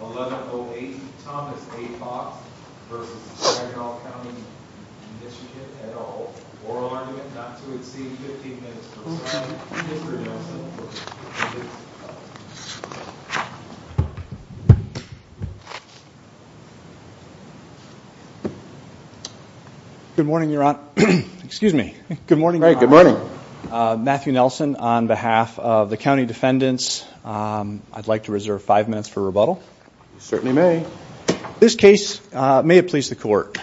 11-08 Thomas A. Fox v. Saginaw County MI 11-08 Thomas A. Fox v. Saginaw County MI Good morning Your Honor. Excuse me. Good morning. Good morning. Matthew Nelson on behalf of the county defendants. I'd like to reserve five minutes for rebuttal. Certainly may. This case may have pleased the court.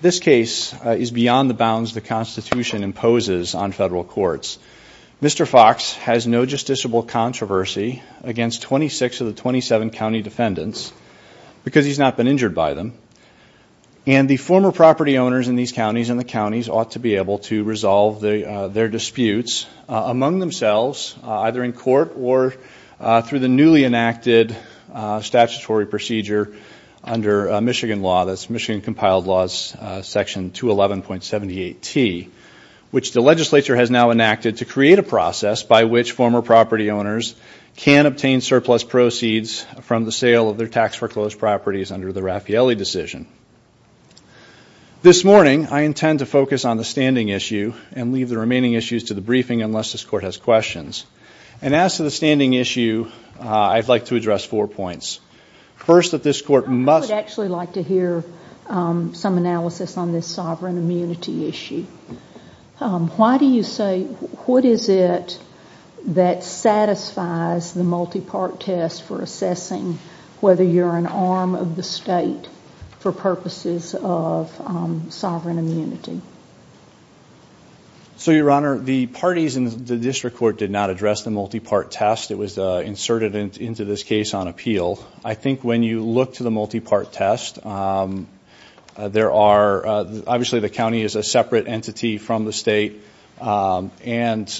This case is beyond the bounds the Constitution imposes on federal courts. Mr. Fox has no justiciable controversy against 26 of the 27 county defendants because he's not been injured by them. And the former property owners in these counties and the counties ought to be able to resolve their disputes among themselves, either in court or through the newly enacted statutory procedure under Michigan law, that's Michigan compiled laws section 211.78T, which the legislature has now enacted to create a process by which former property owners can obtain surplus proceeds from the sale of their tax foreclosed properties under the Raffaele decision. This morning, I intend to focus on the standing issue and leave the remaining issues to the briefing unless this court has questions. And as to the standing issue, I'd like to address four points. First, that this court must actually like to hear some analysis on this sovereign immunity issue. Why do you say what is it that satisfies the multi-part test for assessing whether you're an arm of the state for purposes of sovereign immunity? So, Your Honor, the parties in the district court did not address the multi-part test. It was inserted into this case on appeal. I think when you look to the multi-part test, there are, obviously the county is a separate entity from the state and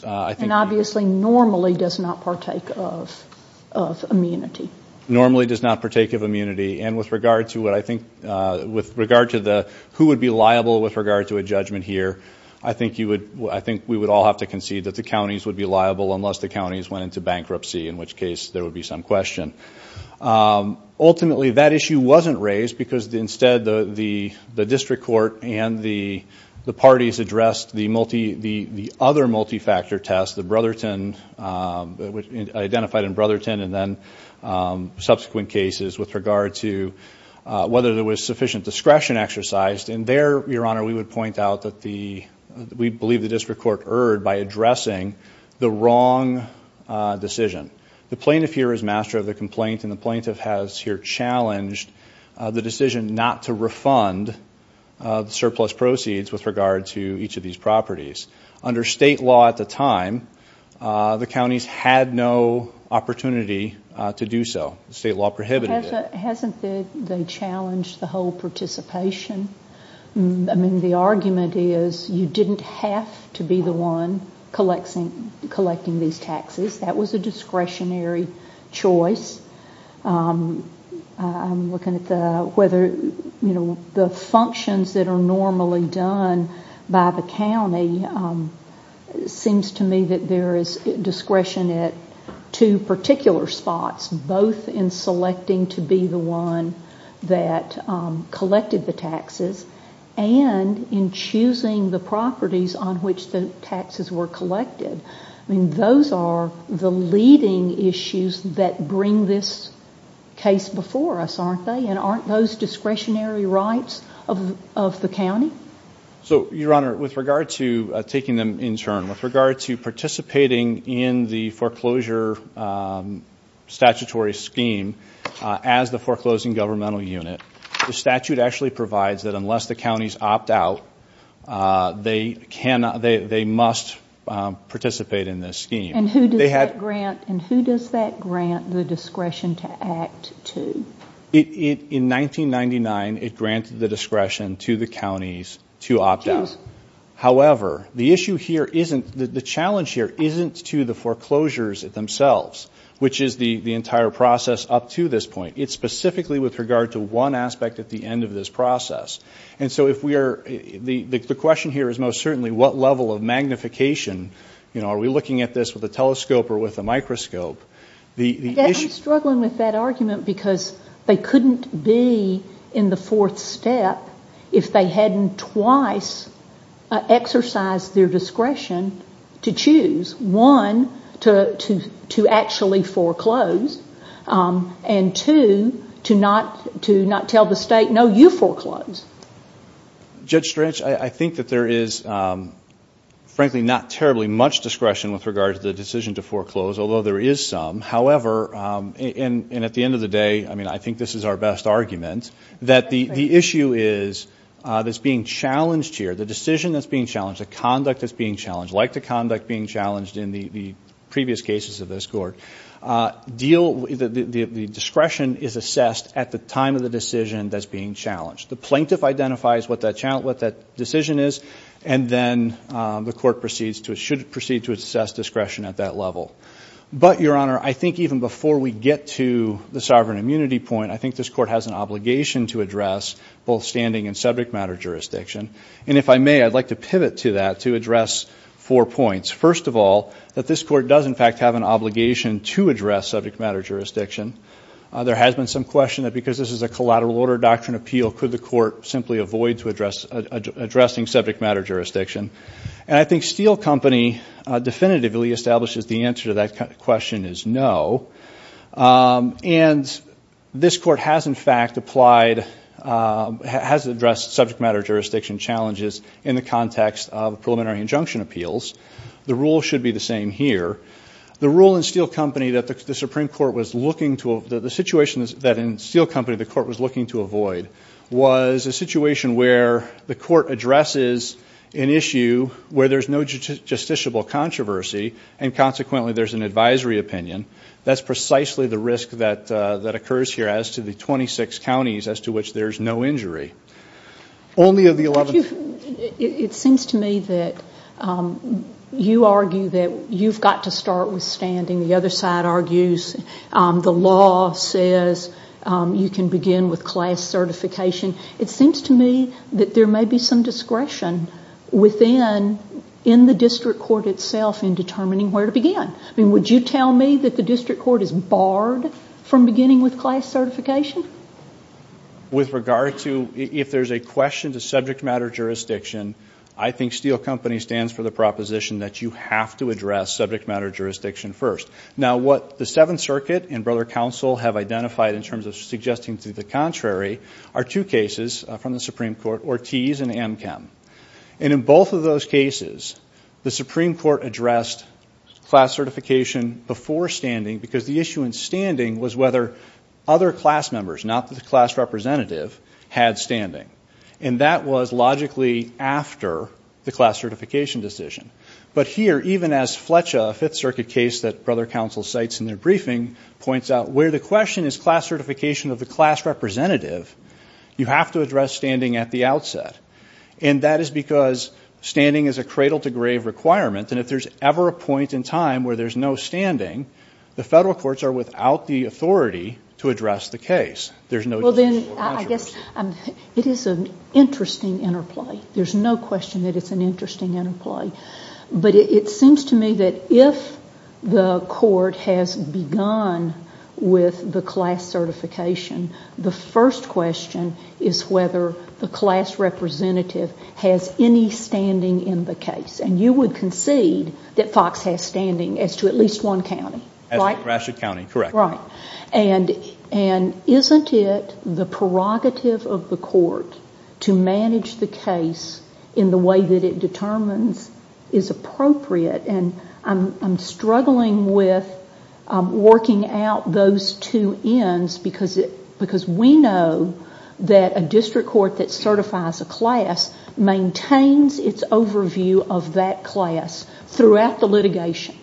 I think- And obviously normally does not partake of immunity. Normally does not partake of immunity. And with regard to what I think, with regard to the who would be liable with regard to a judgment here, I think you would, I think we would all have to concede that the counties would be liable unless the counties went into bankruptcy, in which case there would be some question. Ultimately, that issue wasn't raised because instead the district court and the parties addressed the other multi-factor test, the Brotherton, identified in Brotherton and then subsequent cases with regard to whether there was sufficient discretion exercised. And there, Your Honor, we would point out that we believe the district court erred by addressing the wrong decision. The plaintiff here is master of the complaint and the plaintiff has here challenged the decision not to refund surplus proceeds with regard to each of these properties. Under state law at the time, the counties had no opportunity to do so. State law prohibited it. Hasn't the challenge the whole participation? I mean, the argument is you didn't have to be the one collecting these taxes. That was a discretionary choice. I'm looking at whether, you know, the functions that are normally done by the county, it seems to me that there is discretion at two particular spots, both in selecting to be the one that collected the taxes and in choosing the properties on which the taxes were collected. I mean, those are the leading issues that bring this case before us, aren't they? And aren't those discretionary rights of the county? So, Your Honor, with regard to taking them in turn, with regard to participating in the foreclosure statutory scheme as the foreclosing governmental unit, the statute actually provides that unless the counties opt out, they must participate in this scheme. And who does that grant the discretion to act to? In 1999, it granted the discretion to the counties to opt out. However, the issue here isn't, the challenge here isn't to the foreclosures themselves, which is the entire process up to this point. It's specifically with regard to one aspect at the end of this process. And so if we are, the question here is most certainly what level of magnification, you know, are we looking at this with a telescope or with a microscope? I'm struggling with that argument because they couldn't be in the fourth step if they hadn't twice exercised their discretion to choose, one, to actually foreclose, and two, to not tell the state, no, you foreclose. Judge Stretch, I think that there is, frankly, not terribly much discretion with regard to the decision to foreclose, although there is some. However, and at the end of the day, I mean, I think this is our best argument, that the issue is that's being challenged here, the decision that's being challenged, the conduct that's being challenged, like the conduct being challenged in the previous cases of this court, the discretion is assessed at the time of the decision that's being challenged. The plaintiff identifies what that decision is, and then the court should proceed to assess discretion at that level. But, Your Honor, I think even before we get to the sovereign immunity point, I think this court has an obligation to address both standing and subject matter jurisdiction. And if I may, I'd like to pivot to that to address four points. First of all, that this court does, in fact, have an obligation to address subject matter jurisdiction. There has been some question that because this is a collateral order doctrine appeal, could the court simply avoid addressing subject matter jurisdiction? And I think Steele Company definitively establishes the answer to that question is no. And this court has, in fact, applied, has addressed subject matter jurisdiction challenges in the context of preliminary injunction appeals. The rule should be the same here. The rule in Steele Company that the Supreme Court was looking to, the situation that in Steele Company the court was looking to avoid, was a situation where the court addresses an issue where there's no justiciable controversy and consequently there's an advisory opinion. That's precisely the risk that occurs here as to the 26 counties as to which there's no injury. It seems to me that you argue that you've got to start with standing. The other side argues the law says you can begin with class certification. It seems to me that there may be some discretion within the district court itself in determining where to begin. I mean, would you tell me that the district court is barred from beginning with class certification? With regard to if there's a question to subject matter jurisdiction, I think Steele Company stands for the proposition that you have to address subject matter jurisdiction first. Now, what the Seventh Circuit and Brother Counsel have identified in terms of suggesting to the contrary are two cases from the Supreme Court, Ortiz and Amchem. And in both of those cases, the Supreme Court addressed class certification before standing because the issue in standing was whether other class members, not the class representative, had standing. And that was logically after the class certification decision. But here, even as Fletcher, a Fifth Circuit case that Brother Counsel cites in their briefing, points out where the question is class certification of the class representative, you have to address standing at the outset. And that is because standing is a cradle-to-grave requirement. And if there's ever a point in time where there's no standing, the federal courts are without the authority to address the case. There's no jurisdiction. Well, then, I guess it is an interesting interplay. There's no question that it's an interesting interplay. But it seems to me that if the court has begun with the class certification, the first question is whether the class representative has any standing in the case. And you would concede that Fox has standing as to at least one county, right? As to Gratiot County, correct. Right. And isn't it the prerogative of the court to manage the case in the way that it determines is appropriate? And I'm struggling with working out those two ends because we know that a district court that certifies a class maintains its overview of that class throughout the litigation.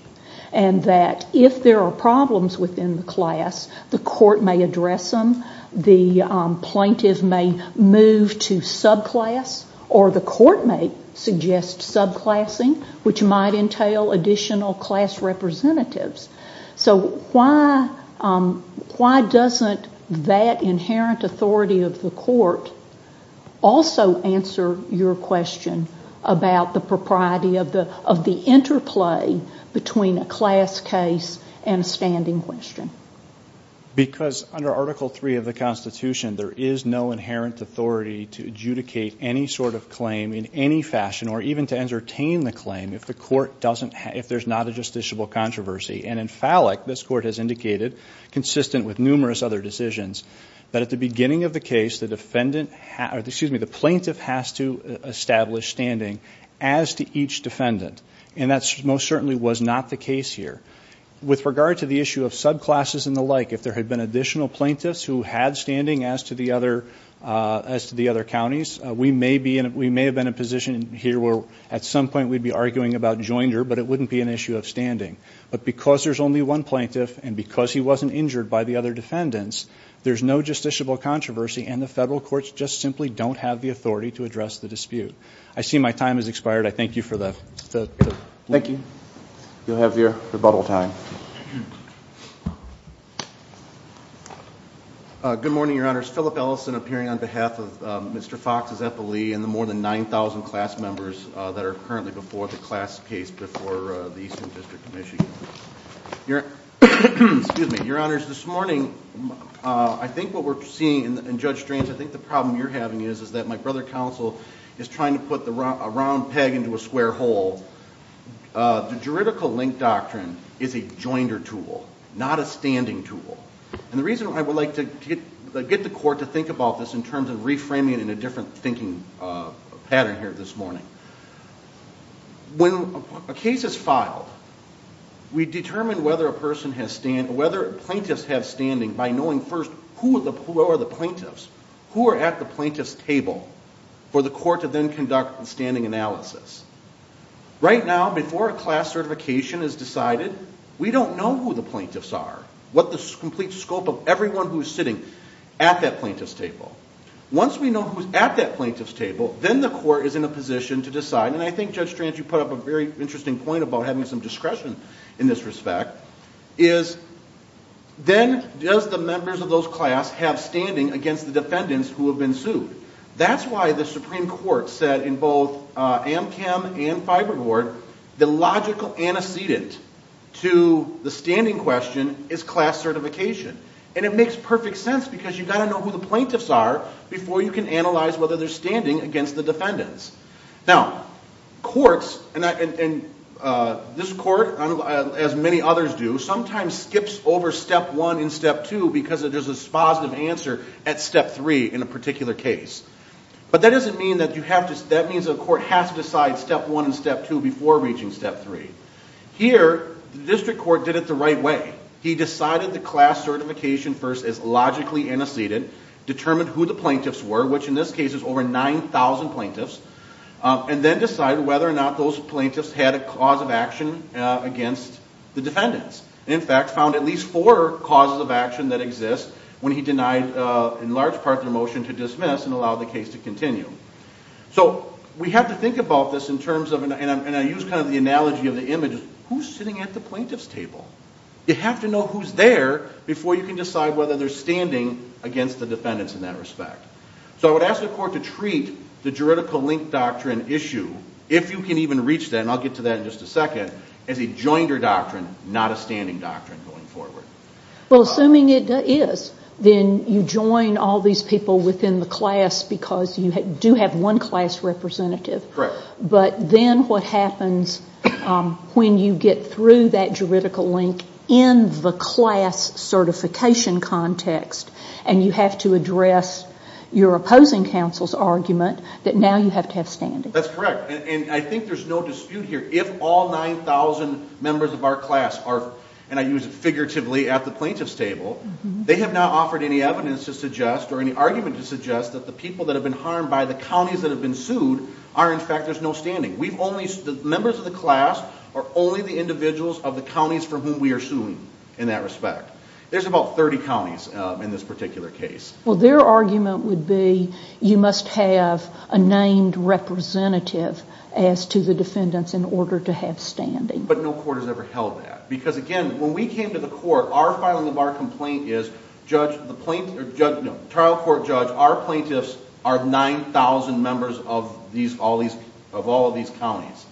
And that if there are problems within the class, the court may address them, the plaintiff may move to subclass, or the court may suggest subclassing, which might entail additional class representatives. So why doesn't that inherent authority of the court also answer your question about the propriety of the interplay between a class case and a standing question? Because under Article III of the Constitution, there is no inherent authority to adjudicate any sort of claim in any fashion or even to entertain the claim if there's not a justiciable controversy. And in Fallick, this court has indicated, consistent with numerous other decisions, that at the beginning of the case, the plaintiff has to establish standing as to each defendant. And that most certainly was not the case here. With regard to the issue of subclasses and the like, if there had been additional plaintiffs who had standing as to the other counties, we may have been in a position here where at some point we'd be arguing about joinder, but it wouldn't be an issue of standing. But because there's only one plaintiff and because he wasn't injured by the other defendants, there's no justiciable controversy and the federal courts just simply don't have the authority to address the dispute. I see my time has expired. I thank you for that. Thank you. You'll have your rebuttal time. Good morning, Your Honors. Philip Ellison appearing on behalf of Mr. Fox's epilee and the more than 9,000 class members that are currently before the class case before the Eastern District of Michigan. Your Honors, this morning I think what we're seeing, and Judge Stranz I think the problem you're having is that my brother counsel is trying to put a round peg into a square hole. The juridical link doctrine is a joinder tool, not a standing tool. And the reason I would like to get the court to think about this in terms of reframing it in a different thinking pattern here this morning. When a case is filed, we determine whether a person has stand or whether plaintiffs have standing by knowing first who are the plaintiffs, who are at the plaintiff's table for the court to then conduct the standing analysis. Right now, before a class certification is decided, we don't know who the plaintiffs are, what the complete scope of everyone who is sitting at that plaintiff's table. Once we know who is at that plaintiff's table, then the court is in a position to decide, and I think Judge Stranz you put up a very interesting point about having some discretion in this respect, is then does the members of those class have standing against the defendants who have been sued. That's why the Supreme Court said in both AMCAM and Fiberboard, the logical antecedent to the standing question is class certification. And it makes perfect sense because you've got to know who the plaintiffs are before you can analyze whether they're standing against the defendants. Now, courts, and this court, as many others do, sometimes skips over step one and step two because there's a positive answer at step three in a particular case. But that doesn't mean that you have to, that means the court has to decide step one and step two before reaching step three. Here, the district court did it the right way. He decided the class certification first as logically antecedent, determined who the plaintiffs were, which in this case is over 9,000 plaintiffs, and then decided whether or not those plaintiffs had a cause of action against the defendants. In fact, found at least four causes of action that exist when he denied, in large part, their motion to dismiss and allowed the case to continue. So we have to think about this in terms of, and I use kind of the analogy of the image, who's sitting at the plaintiff's table? You have to know who's there before you can decide whether they're standing against the defendants in that respect. So I would ask the court to treat the juridical link doctrine issue, if you can even reach that, and I'll get to that in just a second, as a joinder doctrine, not a standing doctrine going forward. Well, assuming it is, then you join all these people within the class because you do have one class representative. Correct. But then what happens when you get through that juridical link in the class certification context and you have to address your opposing counsel's argument that now you have to have standing? That's correct, and I think there's no dispute here. If all 9,000 members of our class are, and I use it figuratively, at the plaintiff's table, they have not offered any evidence to suggest or any argument to suggest that the people that have been harmed by the counties that have been sued are, in fact, there's no standing. The members of the class are only the individuals of the counties for whom we are suing in that respect. There's about 30 counties in this particular case. Well, their argument would be you must have a named representative as to the defendants in order to have standing. But no court has ever held that because, again, when we came to the court, our filing of our complaint is trial court judge, our plaintiffs are 9,000 members of all of these counties.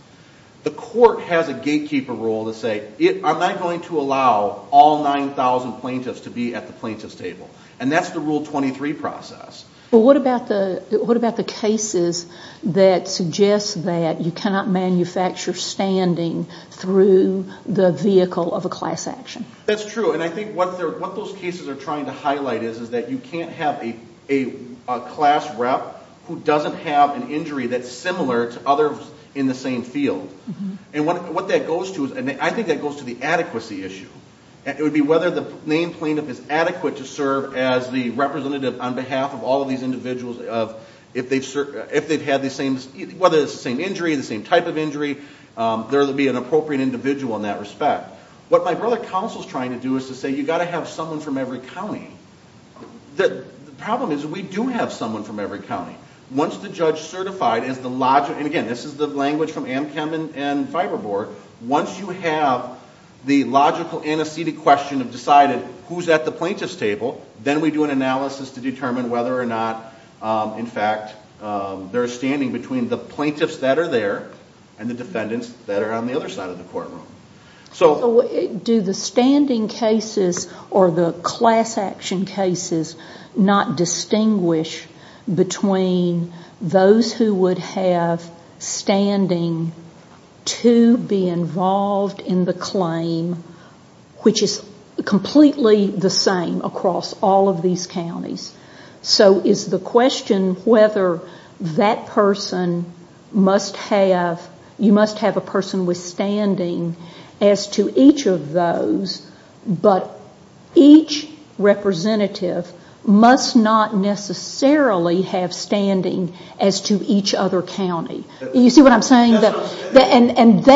The court has a gatekeeper role to say I'm not going to allow all 9,000 plaintiffs to be at the plaintiff's table, and that's the Rule 23 process. Well, what about the cases that suggest that you cannot manufacture standing through the vehicle of a class action? That's true, and I think what those cases are trying to highlight is that you can't have a class rep who doesn't have an injury that's similar to others in the same field. And what that goes to, and I think that goes to the adequacy issue. It would be whether the named plaintiff is adequate to serve as the representative on behalf of all of these individuals if they've had the same, whether it's the same injury, the same type of injury, there would be an appropriate individual in that respect. What my brother counsel is trying to do is to say you've got to have someone from every county. The problem is we do have someone from every county. Once the judge certified, and again, this is the language from Amchem and Fiberboard, once you have the logical antecedent question of deciding who's at the plaintiff's table, then we do an analysis to determine whether or not, in fact, there is standing between the plaintiffs that are there and the defendants that are on the other side of the courtroom. Do the standing cases or the class action cases not distinguish between those who would have standing to be involved in the claim, which is completely the same across all of these counties? So is the question whether that person must have, you must have a person with standing as to each of those, but each representative must not necessarily have standing as to each other county. You see what I'm saying? That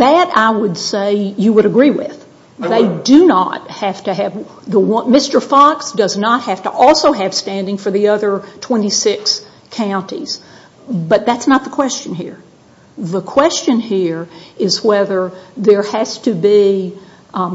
I would say you would agree with. They do not have to have, Mr. Fox does not have to also have standing for the other 26 counties, but that's not the question here. The question here is whether there has to be,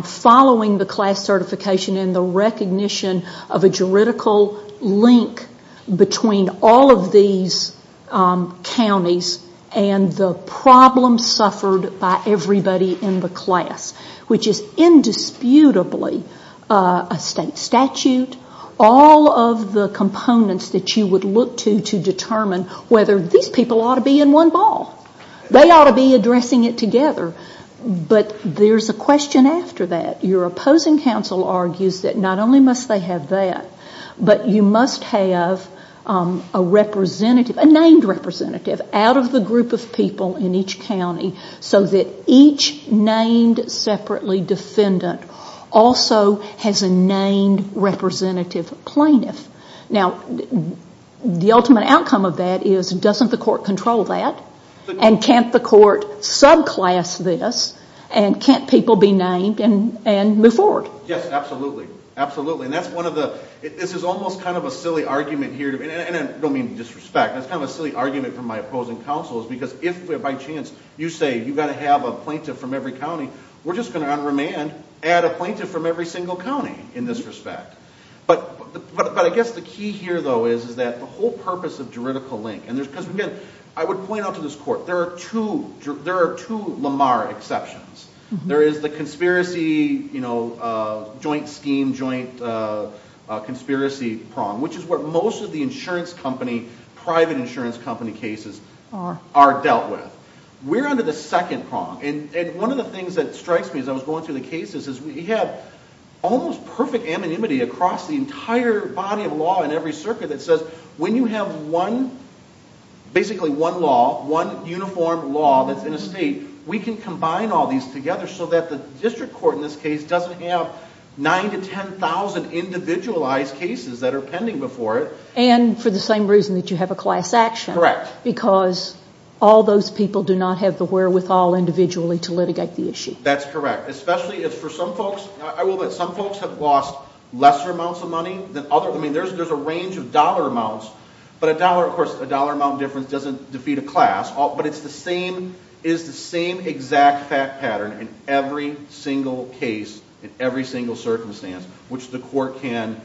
following the class certification and the recognition of a juridical link between all of these counties and the problems suffered by everybody in the class, which is indisputably a state statute, all of the components that you would look to to determine whether these people ought to be in one ball. They ought to be addressing it together. But there's a question after that. Your opposing counsel argues that not only must they have that, but you must have a representative, a named representative out of the group of people in each county so that each named separately defendant also has a named representative plaintiff. Now, the ultimate outcome of that is doesn't the court control that? And can't the court subclass this? And can't people be named and move forward? Yes, absolutely. Absolutely. And that's one of the ñ this is almost kind of a silly argument here. And I don't mean to disrespect. That's kind of a silly argument from my opposing counsel is because if by chance you say you've got to have a plaintiff from every county, we're just going to on remand add a plaintiff from every single county in this respect. But I guess the key here, though, is that the whole purpose of juridical link because, again, I would point out to this court there are two Lamar exceptions. There is the conspiracy, you know, joint scheme, joint conspiracy prong, which is what most of the insurance company, private insurance company cases are dealt with. We're under the second prong. And one of the things that strikes me as I was going through the cases is we have almost perfect anonymity across the entire body of law in every circuit that says when you have one, basically one law, one uniform law that's in a state, we can combine all these together so that the district court in this case doesn't have 9,000 to 10,000 individualized cases that are pending before it. And for the same reason that you have a class action. Correct. Because all those people do not have the wherewithal individually to litigate the issue. That's correct. Especially if for some folks, I will bet some folks have lost lesser amounts of money than others. I mean, there's a range of dollar amounts. But a dollar, of course, a dollar amount difference doesn't defeat a class. But it's the same exact pattern in every single case, in every single circumstance, which the court can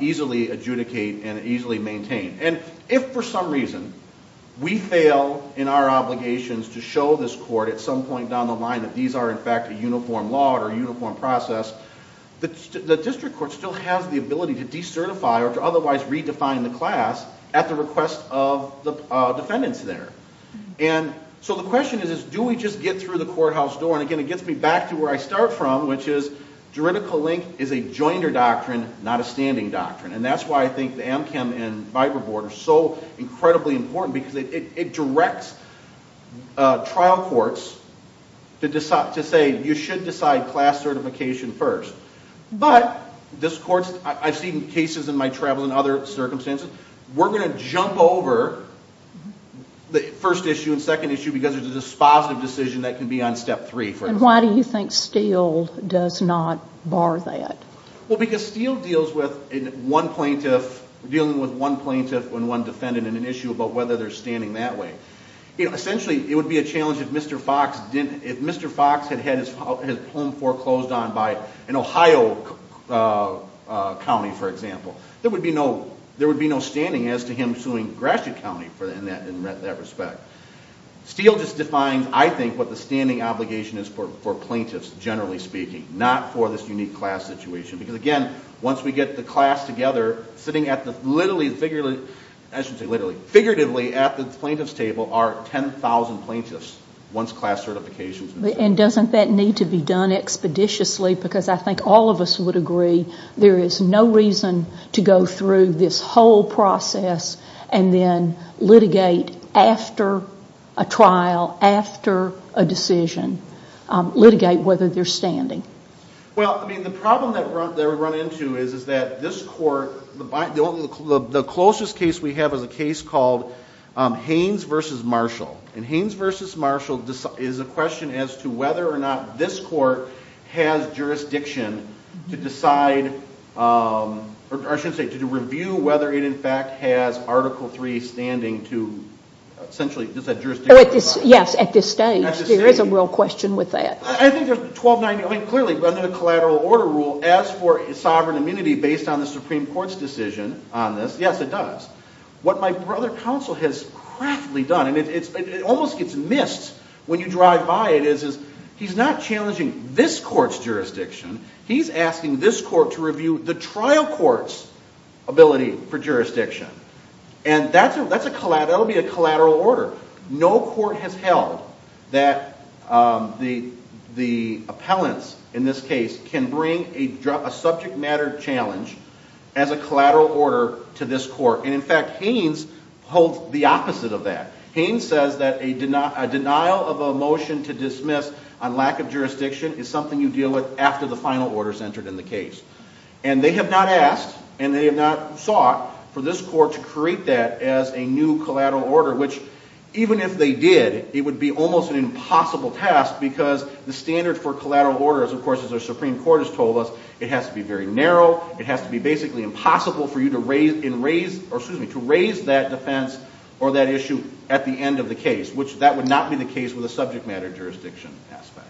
easily adjudicate and easily maintain. And if for some reason we fail in our obligations to show this court at some point down the line that these are in fact a uniform law or a uniform process, the district court still has the ability to decertify or to otherwise redefine the class at the request of the defendants there. And so the question is, do we just get through the courthouse door? And again, it gets me back to where I start from, which is juridical link is a joinder doctrine, not a standing doctrine. And that's why I think the AmChem and Viber board are so incredibly important because it directs trial courts to say you should decide class certification first. But I've seen cases in my travel and other circumstances. We're going to jump over the first issue and second issue because there's a dispositive decision that can be on step three. And why do you think Steele does not bar that? Well, because Steele deals with one plaintiff and one defendant in an issue about whether they're standing that way. Essentially, it would be a challenge if Mr. Fox had had his home foreclosed on by an Ohio county, for example. There would be no standing as to him suing Gratiot County in that respect. Steele just defines, I think, what the standing obligation is for plaintiffs, generally speaking, not for this unique class situation. Because again, once we get the class together, sitting literally at the plaintiff's table are 10,000 plaintiffs once class certification has been issued. And doesn't that need to be done expeditiously? Because I think all of us would agree there is no reason to go through this whole process and then litigate after a trial, after a decision, litigate whether they're standing. Well, the problem that we run into is that this court, the closest case we have is a case called Haynes v. Marshall. And Haynes v. Marshall is a question as to whether or not this court has jurisdiction to decide, or I should say, to review whether it in fact has Article III standing to essentially, does that jurisdiction apply? Yes, at this stage. There is a real question with that. I think there's 1290, I mean, clearly, under the collateral order rule, as for sovereign immunity based on the Supreme Court's decision on this, yes, it does. What my brother counsel has craftily done, and it almost gets missed when you drive by it, is he's not challenging this court's jurisdiction, he's asking this court to review the trial court's ability for jurisdiction. And that would be a collateral order. No court has held that the appellants, in this case, can bring a subject matter challenge as a collateral order to this court. And in fact, Haynes holds the opposite of that. Haynes says that a denial of a motion to dismiss on lack of jurisdiction is something you deal with after the final order is entered in the case. And they have not asked, and they have not sought, for this court to create that as a new collateral order, which, even if they did, it would be almost an impossible task because the standard for collateral orders, of course, as the Supreme Court has told us, it has to be very narrow, it has to be basically impossible for you to raise that defense or that issue at the end of the case, which that would not be the case with a subject matter jurisdiction aspect.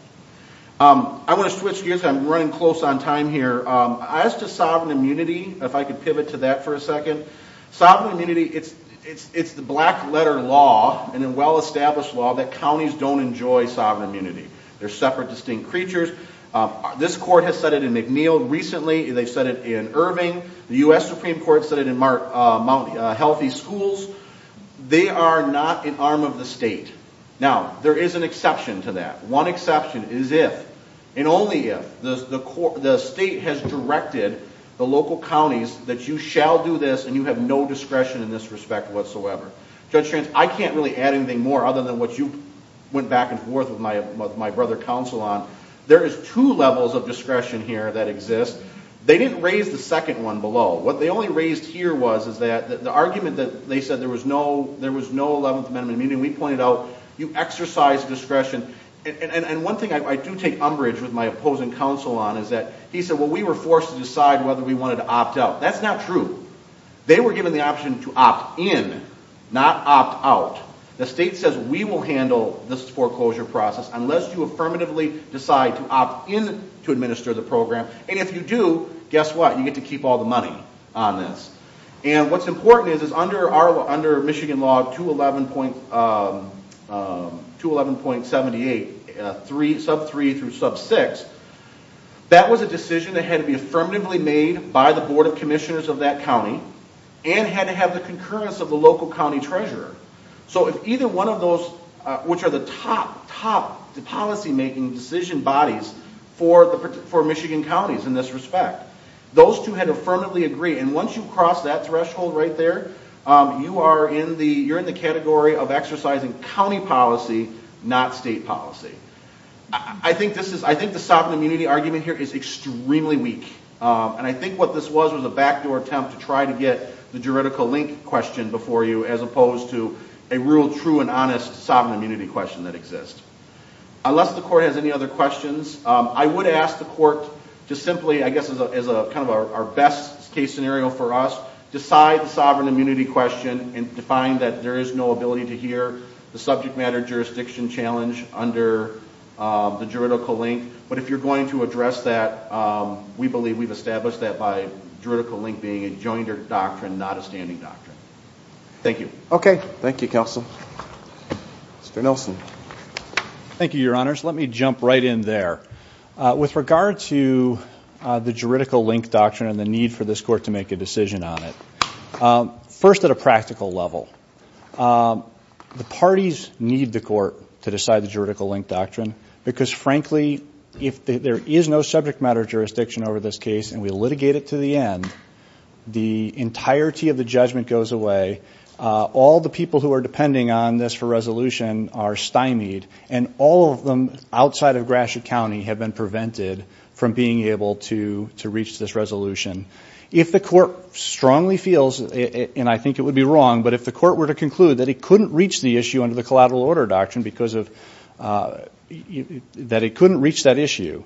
I want to switch gears. I'm running close on time here. As to sovereign immunity, if I could pivot to that for a second. Sovereign immunity, it's the black-letter law and a well-established law that counties don't enjoy sovereign immunity. They're separate, distinct creatures. This court has said it in McNeil recently. They've said it in Irving. The U.S. Supreme Court said it in Mount Healthy Schools. They are not an arm of the state. Now, there is an exception to that. One exception is if, and only if, the state has directed the local counties that you shall do this and you have no discretion in this respect whatsoever. Judge Strantz, I can't really add anything more other than what you went back and forth with my brother counsel on. There is two levels of discretion here that exist. They didn't raise the second one below. What they only raised here was is that the argument that they said there was no 11th Amendment, meaning we pointed out you exercise discretion. And one thing I do take umbrage with my opposing counsel on is that he said, well, we were forced to decide whether we wanted to opt out. That's not true. They were given the option to opt in, not opt out. The state says we will handle this foreclosure process unless you affirmatively decide to opt in to administer the program. And if you do, guess what, you get to keep all the money on this. And what's important is under Michigan law 211.78, sub 3 through sub 6, that was a decision that had to be affirmatively made by the Board of Commissioners of that county and had to have the concurrence of the local county treasurer. So if either one of those, which are the top, top policymaking decision bodies for Michigan counties in this respect, those two had affirmatively agreed. And once you cross that threshold right there, you are in the category of exercising county policy, not state policy. I think the sovereign immunity argument here is extremely weak. And I think what this was was a backdoor attempt to try to get the juridical link question before you as opposed to a real, true, and honest sovereign immunity question that exists. Unless the court has any other questions, I would ask the court to simply, I guess as kind of our best case scenario for us, decide the sovereign immunity question and define that there is no ability to hear the subject matter jurisdiction challenge under the juridical link. But if you're going to address that, we believe we've established that by juridical link being a jointed doctrine, not a standing doctrine. Thank you. Okay. Thank you, Counsel. Mr. Nelson. Thank you, Your Honors. Let me jump right in there. With regard to the juridical link doctrine and the need for this court to make a decision on it, first at a practical level, the parties need the court to decide the juridical link doctrine because, frankly, if there is no subject matter jurisdiction over this case and we litigate it to the end, the entirety of the judgment goes away. All the people who are depending on this for resolution are stymied, and all of them outside of Gratiot County have been prevented from being able to reach this resolution. If the court strongly feels, and I think it would be wrong, but if the court were to conclude that it couldn't reach the issue under the collateral order doctrine because of that it couldn't reach that issue,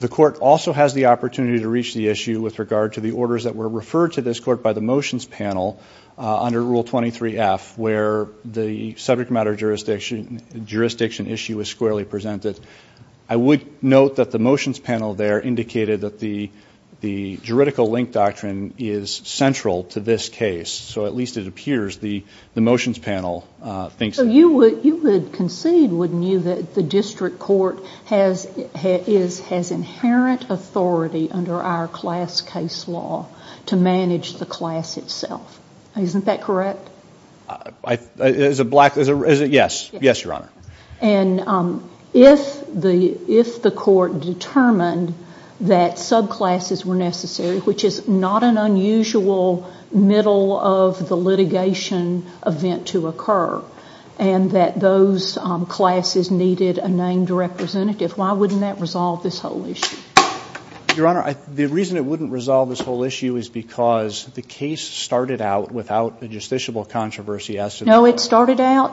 the court also has the opportunity to reach the issue with regard to the orders that were referred to this court by the motions panel under Rule 23F where the subject matter jurisdiction issue is squarely presented. I would note that the motions panel there indicated that the juridical link doctrine is central to this case, so at least it appears the motions panel thinks that. You would concede, wouldn't you, that the district court has inherent authority under our class case law to manage the class itself. Isn't that correct? Yes, Your Honor. And if the court determined that subclasses were necessary, which is not an unusual middle of the litigation event to occur, and that those classes needed a named representative, why wouldn't that resolve this whole issue? Your Honor, the reason it wouldn't resolve this whole issue is because the case started out without a justiciable controversy. No, it started out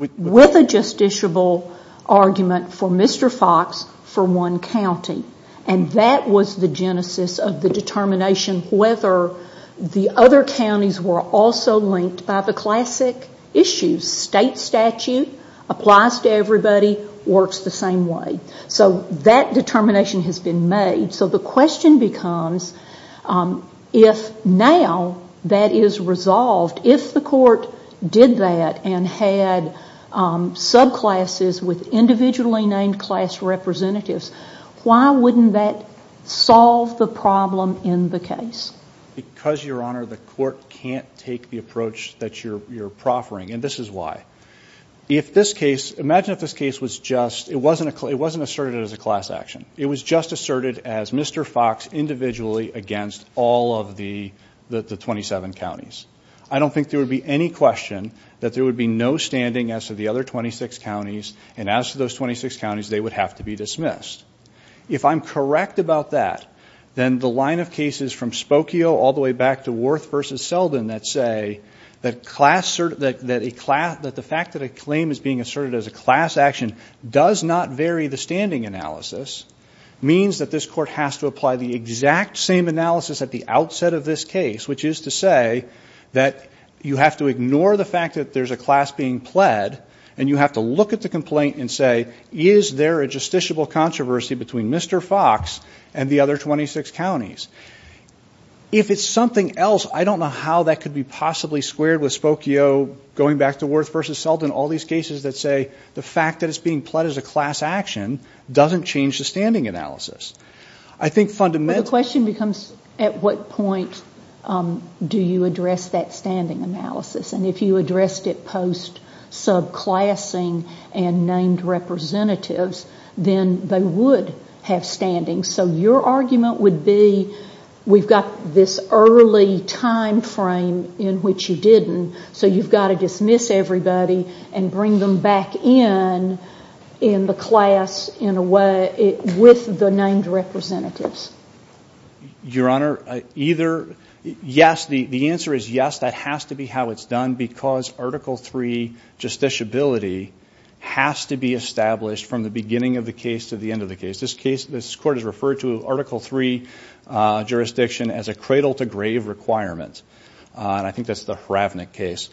with a justiciable argument for Mr. Fox for one county, and that was the genesis of the determination whether the other counties were also linked by the classic issue. State statute applies to everybody, works the same way. So that determination has been made. So the question becomes if now that is resolved, if the court did that and had subclasses with individually named class representatives, why wouldn't that solve the problem in the case? Because, Your Honor, the court can't take the approach that you're proffering, and this is why. If this case, imagine if this case was just, it wasn't asserted as a class action. It was just asserted as Mr. Fox individually against all of the 27 counties. I don't think there would be any question that there would be no standing as to the other 26 counties, and as to those 26 counties, they would have to be dismissed. If I'm correct about that, then the line of cases from Spokio all the way back to Worth v. Selden that say that the fact that a claim is being asserted as a class action does not vary the standing analysis means that this court has to apply the exact same analysis at the outset of this case, which is to say that you have to ignore the fact that there's a class being pled and you have to look at the complaint and say, is there a justiciable controversy between Mr. Fox and the other 26 counties? If it's something else, I don't know how that could be possibly squared with Spokio going back to Worth v. Selden, all these cases that say the fact that it's being pled as a class action doesn't change the standing analysis. I think fundamentally the question becomes, at what point do you address that standing analysis? And if you addressed it post-subclassing and named representatives, then they would have standing. So your argument would be we've got this early time frame in which you didn't, so you've got to dismiss everybody and bring them back in in the class with the named representatives. Your Honor, either yes, the answer is yes, that has to be how it's done, because Article III justiciability has to be established from the beginning of the case to the end of the case. This case, this court has referred to Article III jurisdiction as a cradle-to-grave requirement. And I think that's the Hravnik case.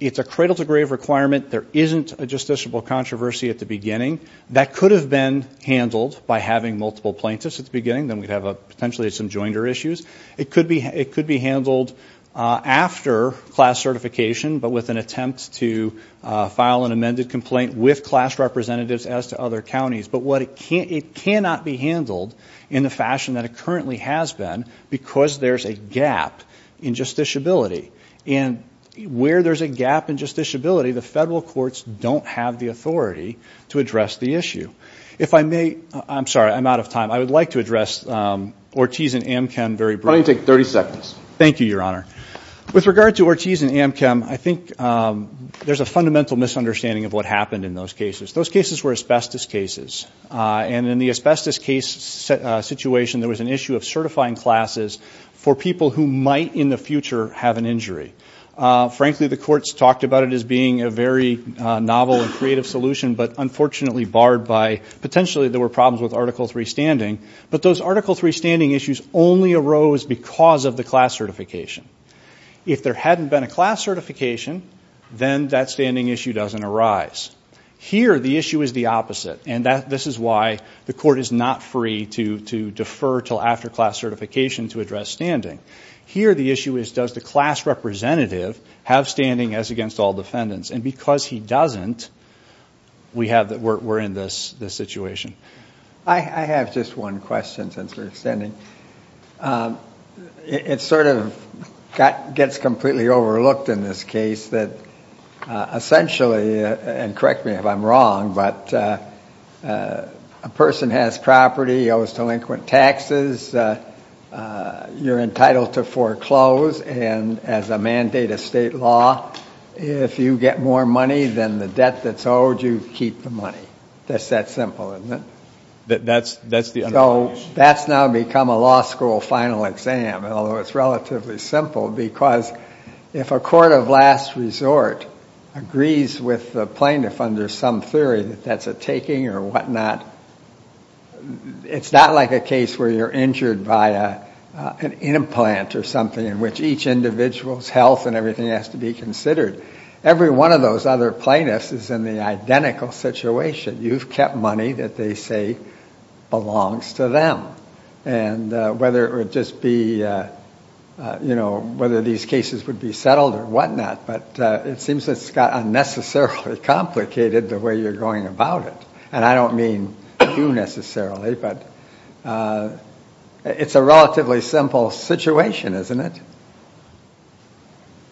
It's a cradle-to-grave requirement. There isn't a justiciable controversy at the beginning. That could have been handled by having multiple plaintiffs at the beginning. Then we'd have potentially some joinder issues. It could be handled after class certification, but with an attempt to file an amended complaint with class representatives as to other counties. But it cannot be handled in the fashion that it currently has been because there's a gap in justiciability. And where there's a gap in justiciability, the federal courts don't have the authority to address the issue. If I may, I'm sorry, I'm out of time. I would like to address Ortiz and Amchem very briefly. Why don't you take 30 seconds? Thank you, Your Honor. With regard to Ortiz and Amchem, I think there's a fundamental misunderstanding of what happened in those cases. Those cases were asbestos cases, and in the asbestos case situation, there was an issue of certifying classes for people who might in the future have an injury. Frankly, the courts talked about it as being a very novel and creative solution, but unfortunately barred by potentially there were problems with Article III standing. But those Article III standing issues only arose because of the class certification. If there hadn't been a class certification, then that standing issue doesn't arise. Here, the issue is the opposite. And this is why the court is not free to defer until after class certification to address standing. Here, the issue is does the class representative have standing as against all defendants? And because he doesn't, we're in this situation. I have just one question since we're extending. It sort of gets completely overlooked in this case that essentially, and correct me if I'm wrong, but a person has property, owes delinquent taxes, you're entitled to foreclose, and as a mandate of state law, if you get more money than the debt that's owed, you keep the money. That's that simple, isn't it? So that's now become a law school final exam, although it's relatively simple, because if a court of last resort agrees with the plaintiff under some theory that that's a taking or whatnot, it's not like a case where you're injured by an implant or something in which each individual's health and everything has to be considered. Every one of those other plaintiffs is in the identical situation. You've kept money that they say belongs to them. Whether these cases would be settled or whatnot, but it seems it's got unnecessarily complicated the way you're going about it, and I don't mean you necessarily, but it's a relatively simple situation, isn't it?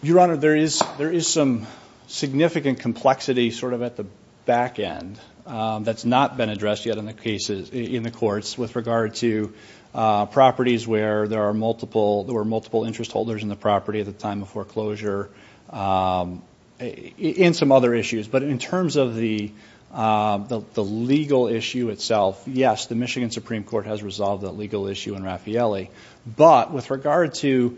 Your Honor, there is some significant complexity sort of at the back end that's not been addressed yet in the courts with regard to properties where there are multiple interest holders in the property at the time of foreclosure and some other issues. But in terms of the legal issue itself, yes, the Michigan Supreme Court has resolved that legal issue in Raffaelli, but with regard to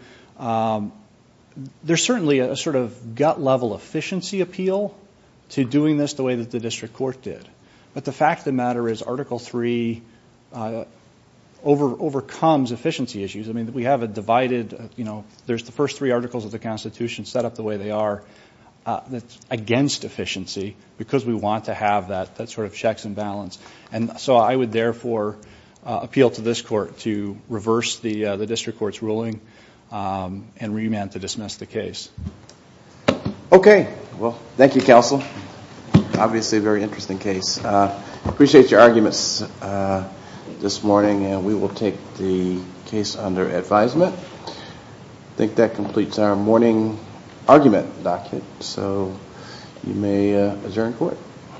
there's certainly a sort of gut-level efficiency appeal to doing this the way that the district court did, but the fact of the matter is Article III overcomes efficiency issues. I mean, we have a divided, you know, there's the first three articles of the Constitution set up the way they are that's against efficiency because we want to have that sort of checks and balance, and so I would therefore appeal to this court to reverse the district court's ruling and remand to dismiss the case. Okay. Well, thank you, counsel. Obviously a very interesting case. I appreciate your arguments this morning, and we will take the case under advisement. I think that completes our morning argument docket, so you may adjourn court.